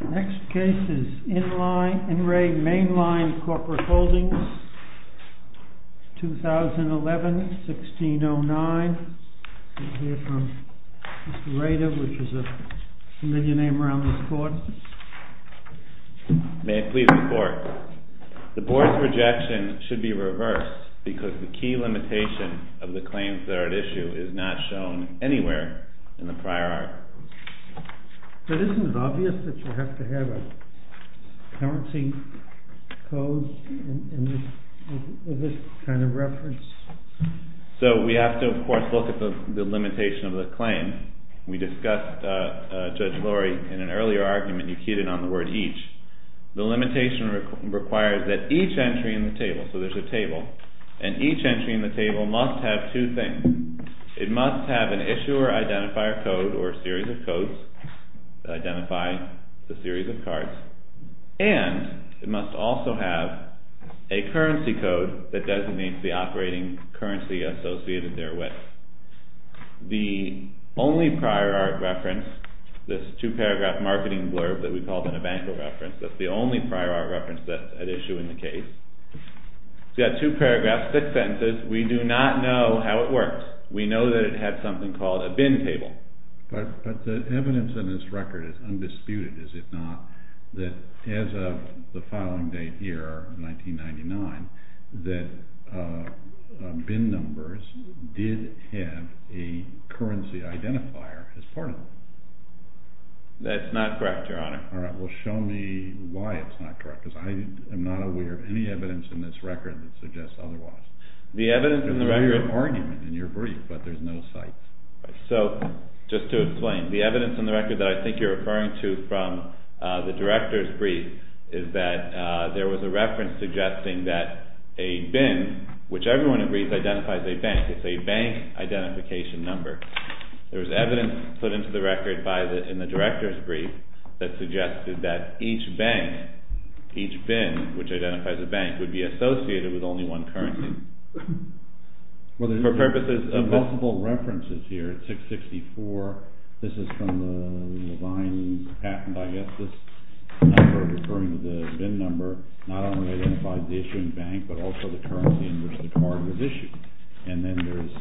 May I please report? The Board's rejection should be reversed because the key limitation of the claims that are at issue is not shown anywhere in the prior art. Isn't it obvious that you have to have a currency code with this kind of reference? So we have to of course look at the limitation of the claim. We discussed, Judge Lurie, in an earlier argument you keyed in on the word each. The limitation requires that each entry in the table, so there's a table, and each entry in the table must have two things. It must have an issuer identifier code or a series of codes that identify the series of cards, and it must also have a currency code that designates the operating currency associated therewith. The only prior art reference, this two-paragraph marketing blurb that we called an Evancho reference, that's the only prior art reference that's at issue in the case. It's got two paragraphs, six sentences. We do not know how it works. We know that it had something called a bin table. But the evidence in this record is undisputed, is it not, that as of the filing date here, 1999, that bin numbers did have a currency identifier as part of them. That's not correct, Your Honor. Alright, well show me why it's not correct, because I am not aware of any evidence in this record that suggests otherwise. The evidence in the record… There's an argument in your brief, but there's no cite. So, just to explain, the evidence in the record that I think you're referring to from the director's brief is that there was a reference suggesting that a bin, which everyone agrees identifies a bank, it's a bank identification number. There's evidence put into the record in the director's brief that suggested that each bank, each bin, which identifies a bank, would be associated with only one currency. For purposes of multiple references here, 664, this is from Levine's patent, I guess, this number referring to the bin number, not only identifies the issuing bank, but also the currency in which the card was issued. And then there's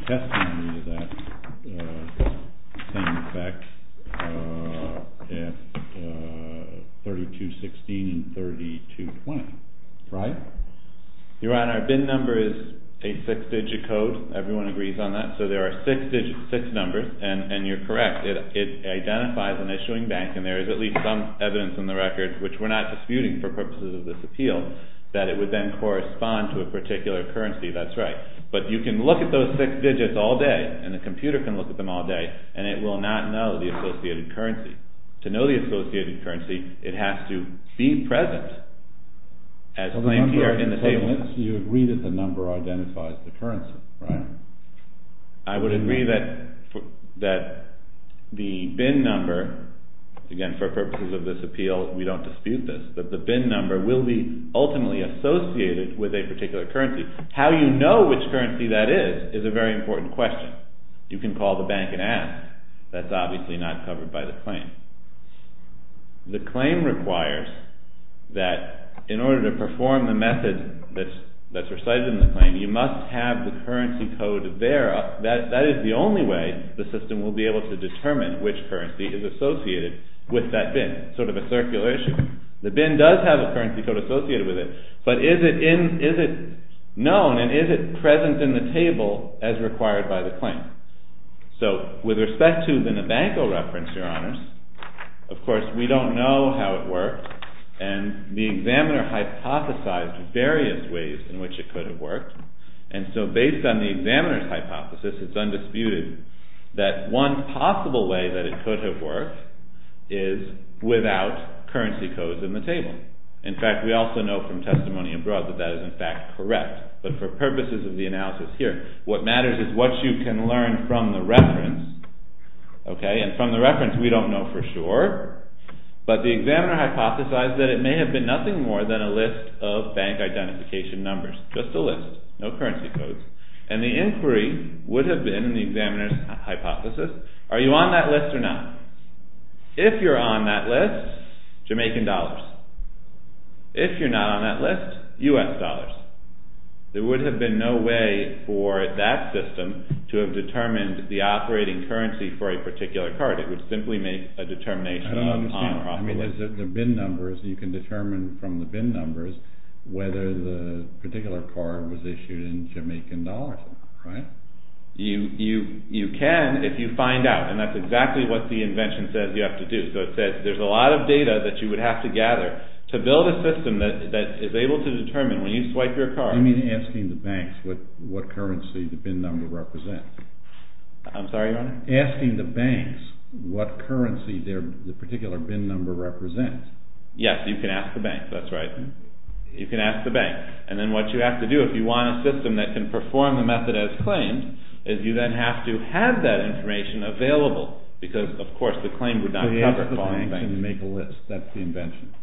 testimony that has the same effect at 3216 and 3220, right? Your Honor, a bin number is a six-digit code, everyone agrees on that, so there are six numbers, and you're correct. It identifies an issuing bank, and there is at least some evidence in the record, which we're not disputing for purposes of this appeal, that it would then correspond to a particular currency, that's right. But you can look at those six digits all day, and the computer can look at them all day, and it will not know the associated currency. To know the associated currency, it has to be present, as claimed here in the statement. You agree that the number identifies the currency, right? I would agree that the bin number, again, for purposes of this appeal, we don't dispute this, but the bin number will be ultimately associated with a particular currency. How you know which currency that is, is a very important question. You can call the bank and ask, that's obviously not covered by the claim. The claim requires that in order to perform the method that's recited in the claim, you must have the currency code there. That is the only way the system will be able to determine which currency is associated with that bin, sort of a circular issue. The bin does have a currency code associated with it, but is it known, and is it present in the table as required by the claim? So, with respect to the Nabanco reference, Your Honours, of course we don't know how it worked, and the examiner hypothesized various ways in which it could have worked. Based on the examiner's hypothesis, it's undisputed that one possible way that it could have worked is without currency codes in the table. In fact, we also know from testimony abroad that that is in fact correct, but for purposes of the analysis here, what matters is what you can learn from the reference. From the reference, we don't know for sure, but the examiner hypothesized that it may have been nothing more than a list of bank identification numbers. Just a list, no currency codes, and the inquiry would have been, in the examiner's hypothesis, are you on that list or not? If you're on that list, Jamaican dollars. If you're not on that list, US dollars. There would have been no way for that system to have determined the operating currency for a particular card. It would simply make a determination of on or off the list. I don't understand. You can determine from the bin numbers whether the particular card was issued in Jamaican dollars or not, right? You can if you find out, and that's exactly what the invention says you have to do. There's a lot of data that you would have to gather to build a system that is able to determine when you swipe your card. You mean asking the banks what currency the bin number represents? I'm sorry, Your Honor? Asking the banks what currency the particular bin number represents. Yes, you can ask the banks. That's right. You can ask the banks. And then what you have to do if you want a system that can perform the method as claimed is you then have to have that information available because, of course, the claim would not cover it. You have to ask the banks and make a list. That's the invention.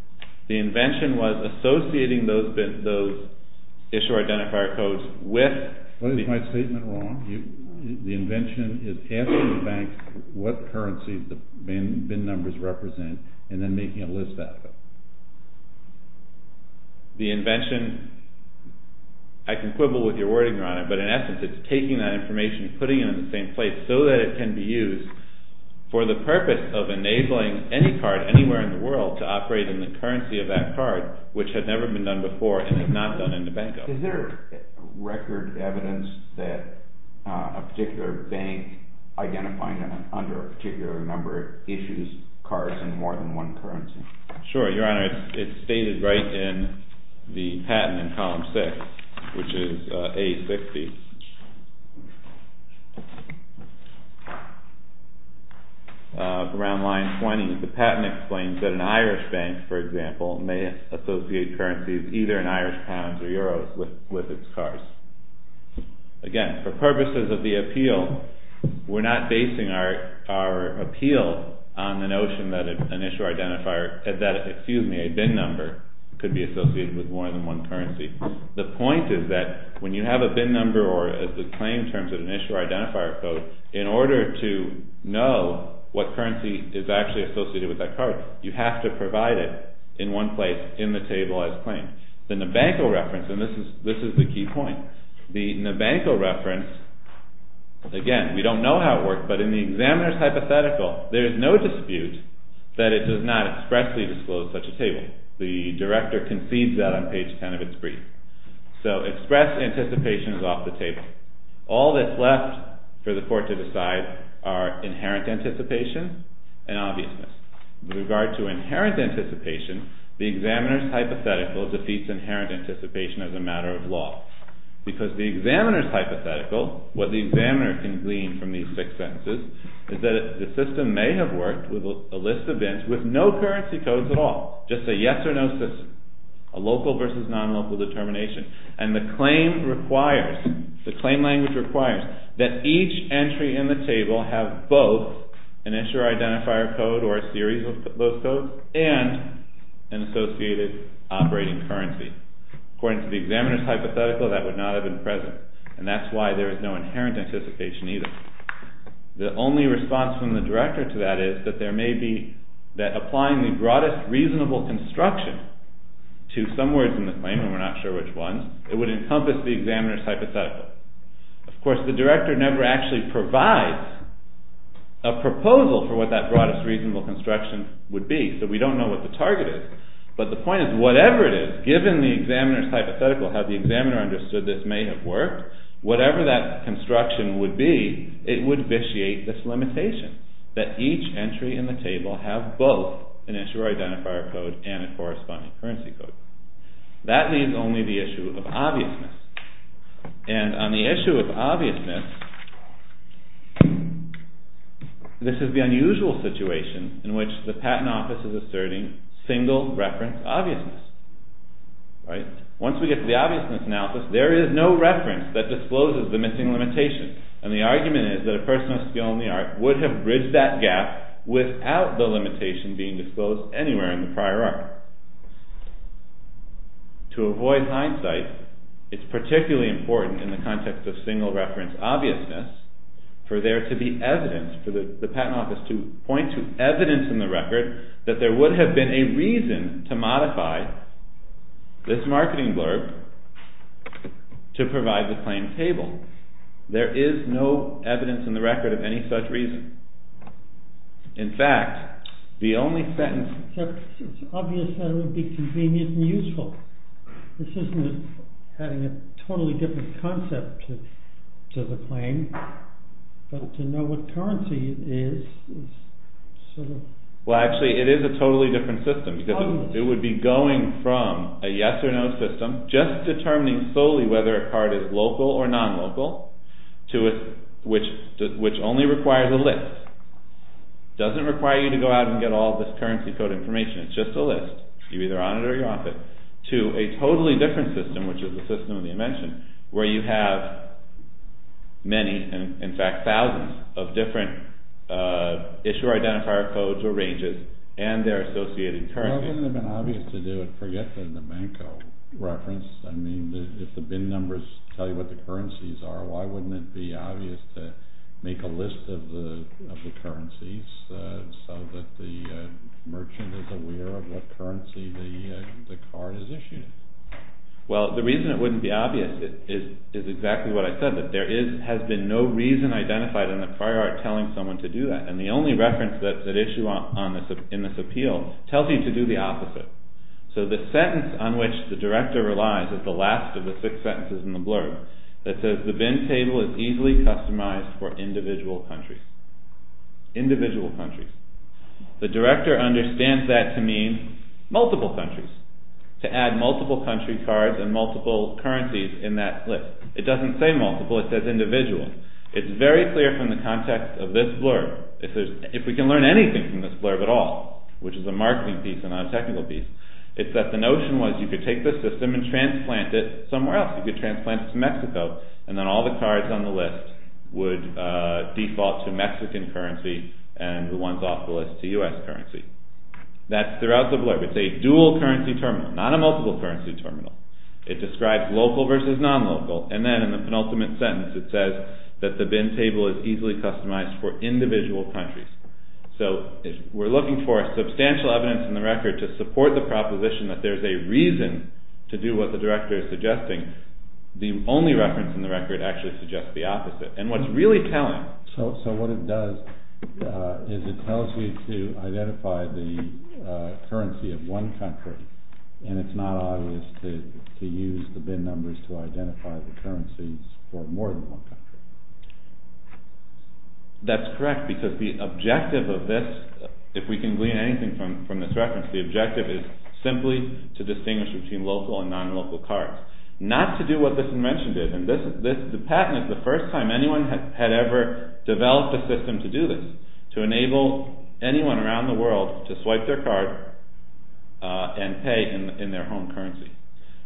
The invention was associating those issue identifier codes with... What is my statement wrong? The invention is asking the banks what currency the bin numbers represent and then making a list out of it. The invention... I can quibble with your wording, Your Honor, but in essence it's taking that information and putting it in the same place so that it can be used for the purpose of enabling any card anywhere in the world to operate in the currency of that card, which has never been done before and is not done in the bank. Is there record evidence that a particular bank identifying under a particular number issues cards in more than one currency? Sure, Your Honor. It's stated right in the patent in column 6, which is A60. Around line 20, the patent explains that an Irish bank, for example, may associate currencies either in Irish pounds or Euros with its cards. Again, for purposes of the appeal, we're not basing our appeal on the notion that an issue identifier... Excuse me, a bin number could be associated with more than one currency. The point is that when you have a bin number or a claim in terms of an issue identifier code, in order to know what currency is actually associated with that card, you have to provide it in one place in the table as claimed. The Nabanko reference, and this is the key point, the Nabanko reference, again, we don't know how it works, but in the examiner's hypothetical, there is no dispute that it does not expressly disclose such a table. The director concedes that on page 10 of its brief. So express anticipation is off the table. All that's left for the court to decide are inherent anticipation and obviousness. With regard to inherent anticipation, the examiner's hypothetical defeats inherent anticipation as a matter of law. Because the examiner's hypothetical, what the examiner can glean from these six sentences, is that the system may have worked with a list of bins with no currency codes at all. Just a yes or no system. A local versus non-local determination. And the claim language requires that each entry in the table have both an issue identifier code or a series of those codes, and an associated operating currency. According to the examiner's hypothetical, that would not have been present. And that's why there is no inherent anticipation either. The only response from the director to that is that applying the broadest reasonable instruction to some words in the claim, and we're not sure which ones, it would encompass the examiner's hypothetical. Of course, the director never actually provides a proposal for what that broadest reasonable instruction would be. So we don't know what the target is. But the point is, whatever it is, given the examiner's hypothetical, how the examiner understood this may have worked, whatever that construction would be, it would vitiate this limitation. that each entry in the table have both an issue identifier code and a corresponding currency code. That leaves only the issue of obviousness. And on the issue of obviousness, this is the unusual situation in which the patent office is asserting single reference obviousness. Once we get to the obviousness analysis, there is no reference that discloses the missing limitation. And the argument is that a person of skill in the art would have bridged that gap without the limitation being disclosed anywhere in the prior art. To avoid hindsight, it's particularly important in the context of single reference obviousness for there to be evidence, for the patent office to point to evidence in the record that there would have been a reason to modify this marketing blurb to provide the claim table. There is no evidence in the record of any such reason. In fact, the only sentence... It's obvious that it would be convenient and useful. This isn't having a totally different concept to the claim, but to know what currency it is... Well, actually, it is a totally different system, because it would be going from a yes or no system, just determining solely whether a card is local or non-local, which only requires a list. It doesn't require you to go out and get all this currency code information. It's just a list. You're either on it or you're off it. To a totally different system, which is the system of the invention, where you have many, in fact thousands, of different issue identifier codes or ranges and their associated currencies. Why wouldn't it have been obvious to do it, forget the Manko reference? I mean, if the bin numbers tell you what the currencies are, why wouldn't it be obvious to make a list of the currencies so that the merchant is aware of what currency the card is issued? Well, the reason it wouldn't be obvious is exactly what I said, that there has been no reason identified in the prior art telling someone to do that. And the only reference that's at issue in this appeal tells you to do the opposite. So the sentence on which the director relies is the last of the six sentences in the blurb, that says the bin table is easily customized for individual countries. Individual countries. The director understands that to mean multiple countries, to add multiple country cards and multiple currencies in that list. It doesn't say multiple, it says individual. It's very clear from the context of this blurb, if we can learn anything from this blurb at all, which is a marketing piece and not a technical piece, it's that the notion was you could take the system and transplant it somewhere else. You could transplant it to Mexico and then all the cards on the list would default to Mexican currency and the ones off the list to US currency. That's throughout the blurb. It's a dual currency terminal, not a multiple currency terminal. It describes local versus non-local, and then in the penultimate sentence it says that the bin table is easily customized for individual countries. So if we're looking for substantial evidence in the record to support the proposition that there's a reason to do what the director is suggesting, the only reference in the record actually suggests the opposite. And what it's really telling… So what it does is it tells you to identify the currency of one country, and it's not obvious to use the bin numbers to identify the currencies for more than one country. That's correct, because the objective of this, if we can glean anything from this reference, the objective is simply to distinguish between local and non-local cards. Not to do what this convention did. The patent is the first time anyone had ever developed a system to do this, to enable anyone around the world to swipe their card and pay in their home currency.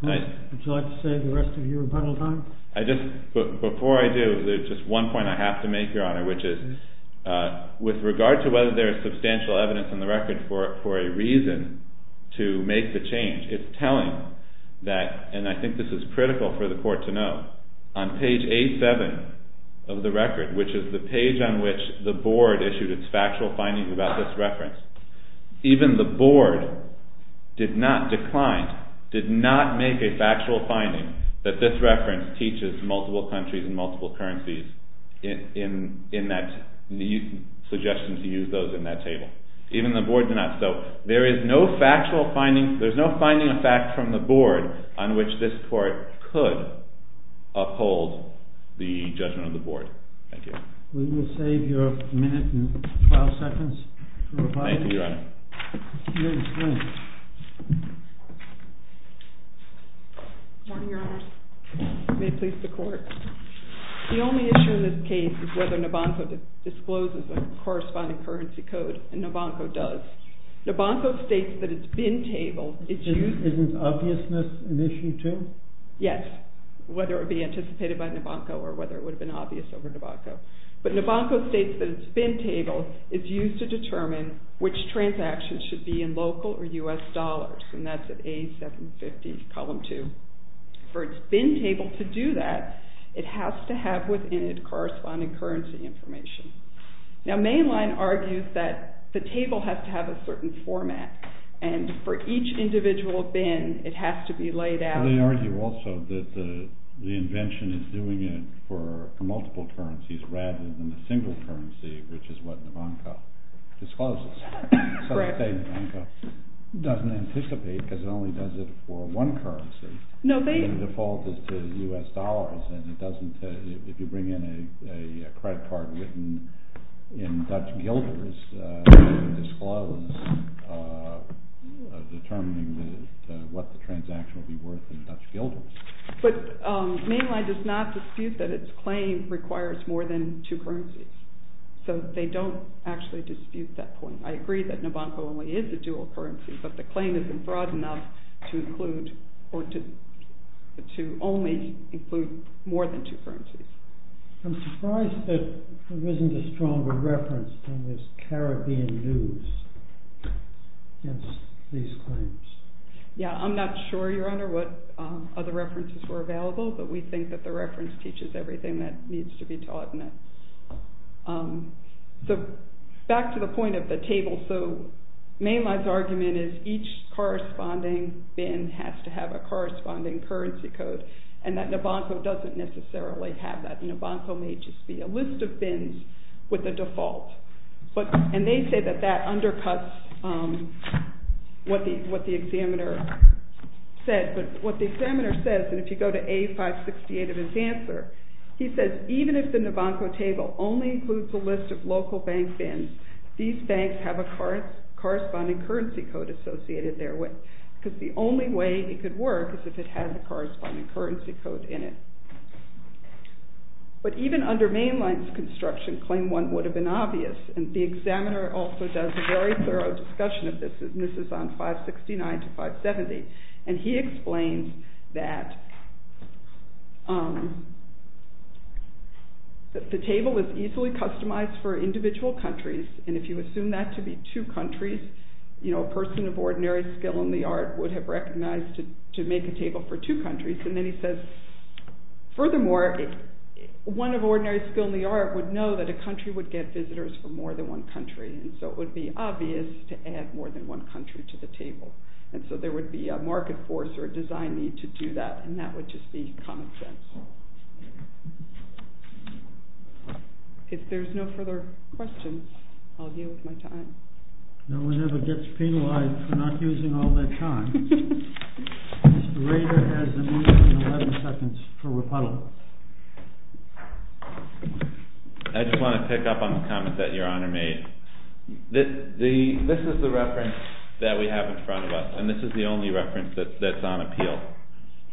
Would you like to say the rest of your rebuttal time? Before I do, there's just one point I have to make, Your Honor, which is with regard to whether there is substantial evidence in the record for a reason to make the change, it's telling that, and I think this is critical for the court to know, on page 87 of the record, which is the page on which the board issued its factual findings about this reference, even the board did not decline, did not make a factual finding that this reference teaches multiple countries and multiple currencies in that suggestion to use those in that table. Even the board did not. So there is no factual finding, there is no finding of fact from the board on which this court could uphold the judgment of the board. Thank you. We will save your minute and 12 seconds for rebuttal. Thank you, Your Honor. Good morning, Your Honor. May it please the court. The only issue in this case is whether Nobanko discloses a corresponding currency code, and Nobanko does. Nobanko states that it's been tabled. Isn't obviousness an issue too? Yes, whether it would be anticipated by Nobanko or whether it would have been obvious over Nobanko. But Nobanko states that it's been tabled. It's used to determine which transactions should be in local or U.S. dollars, and that's at A750, column 2. For it's been tabled to do that, it has to have within it corresponding currency information. Now, Mainline argues that the table has to have a certain format, and for each individual bin, it has to be laid out. They argue also that the invention is doing it for multiple currencies rather than a single currency, which is what Nobanko discloses. So they say Nobanko doesn't anticipate because it only does it for one currency. The default is to U.S. dollars, and if you bring in a credit card written in Dutch guilders, it's disclosed determining what the transaction will be worth in Dutch guilders. But Mainline does not dispute that its claim requires more than two currencies. So they don't actually dispute that point. I agree that Nobanko only is a dual currency, but the claim isn't broad enough to only include more than two currencies. I'm surprised that there isn't a stronger reference than this Caribbean news against these claims. Yeah, I'm not sure, Your Honor, what other references were available, but we think that the reference teaches everything that needs to be taught in it. Back to the point of the table. So Mainline's argument is each corresponding bin has to have a corresponding currency code, and that Nobanko doesn't necessarily have that. Nobanko may just be a list of bins with a default. And they say that that undercuts what the examiner said. But what the examiner says, and if you go to A568 of his answer, he says even if the Nobanko table only includes a list of local bank bins, these banks have a corresponding currency code associated there because the only way it could work is if it had the corresponding currency code in it. But even under Mainline's construction, claim one would have been obvious, and the examiner also does a very thorough discussion of this, and this is on 569 to 570, and he explains that the table is easily customized for individual countries, and if you assume that to be two countries, a person of ordinary skill in the art would have recognized to make a table for two countries, and then he says furthermore, one of ordinary skill in the art would know that a country would get visitors from more than one country, and so it would be obvious to add more than one country to the table. And so there would be a market force or a design need to do that, and that would just be common sense. If there's no further questions, I'll deal with my time. No one ever gets penalized for not using all their time. Mr. Rader has a minute and 11 seconds for rebuttal. I just want to pick up on the comment that Your Honor made. This is the reference that we have in front of us, and this is the only reference that's on appeal.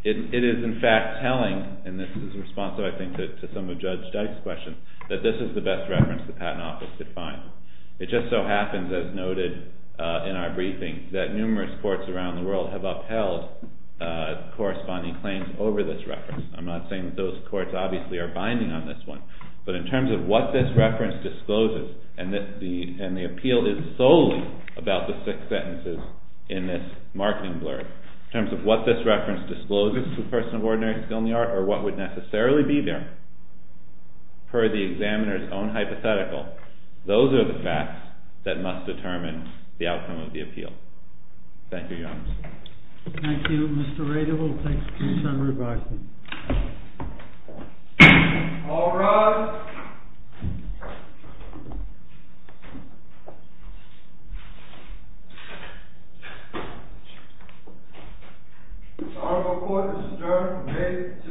It is, in fact, telling, and this is responsive, I think, to some of Judge Dyke's questions, that this is the best reference the Patent Office could find. It just so happens, as noted in our briefing, that numerous courts around the world have upheld corresponding claims over this reference. I'm not saying that those courts obviously are binding on this one, but in terms of what this reference discloses, and the appeal is solely about the six sentences in this marketing blurb, in terms of what this reference discloses to a person of ordinary skill in the art or what would necessarily be there, per the examiner's own hypothetical, those are the facts that must determine the outcome of the appeal. Thank you, Your Honor. Thank you, Mr. Rader. We'll take some rebuttals. All rise. This article of court is adjourned.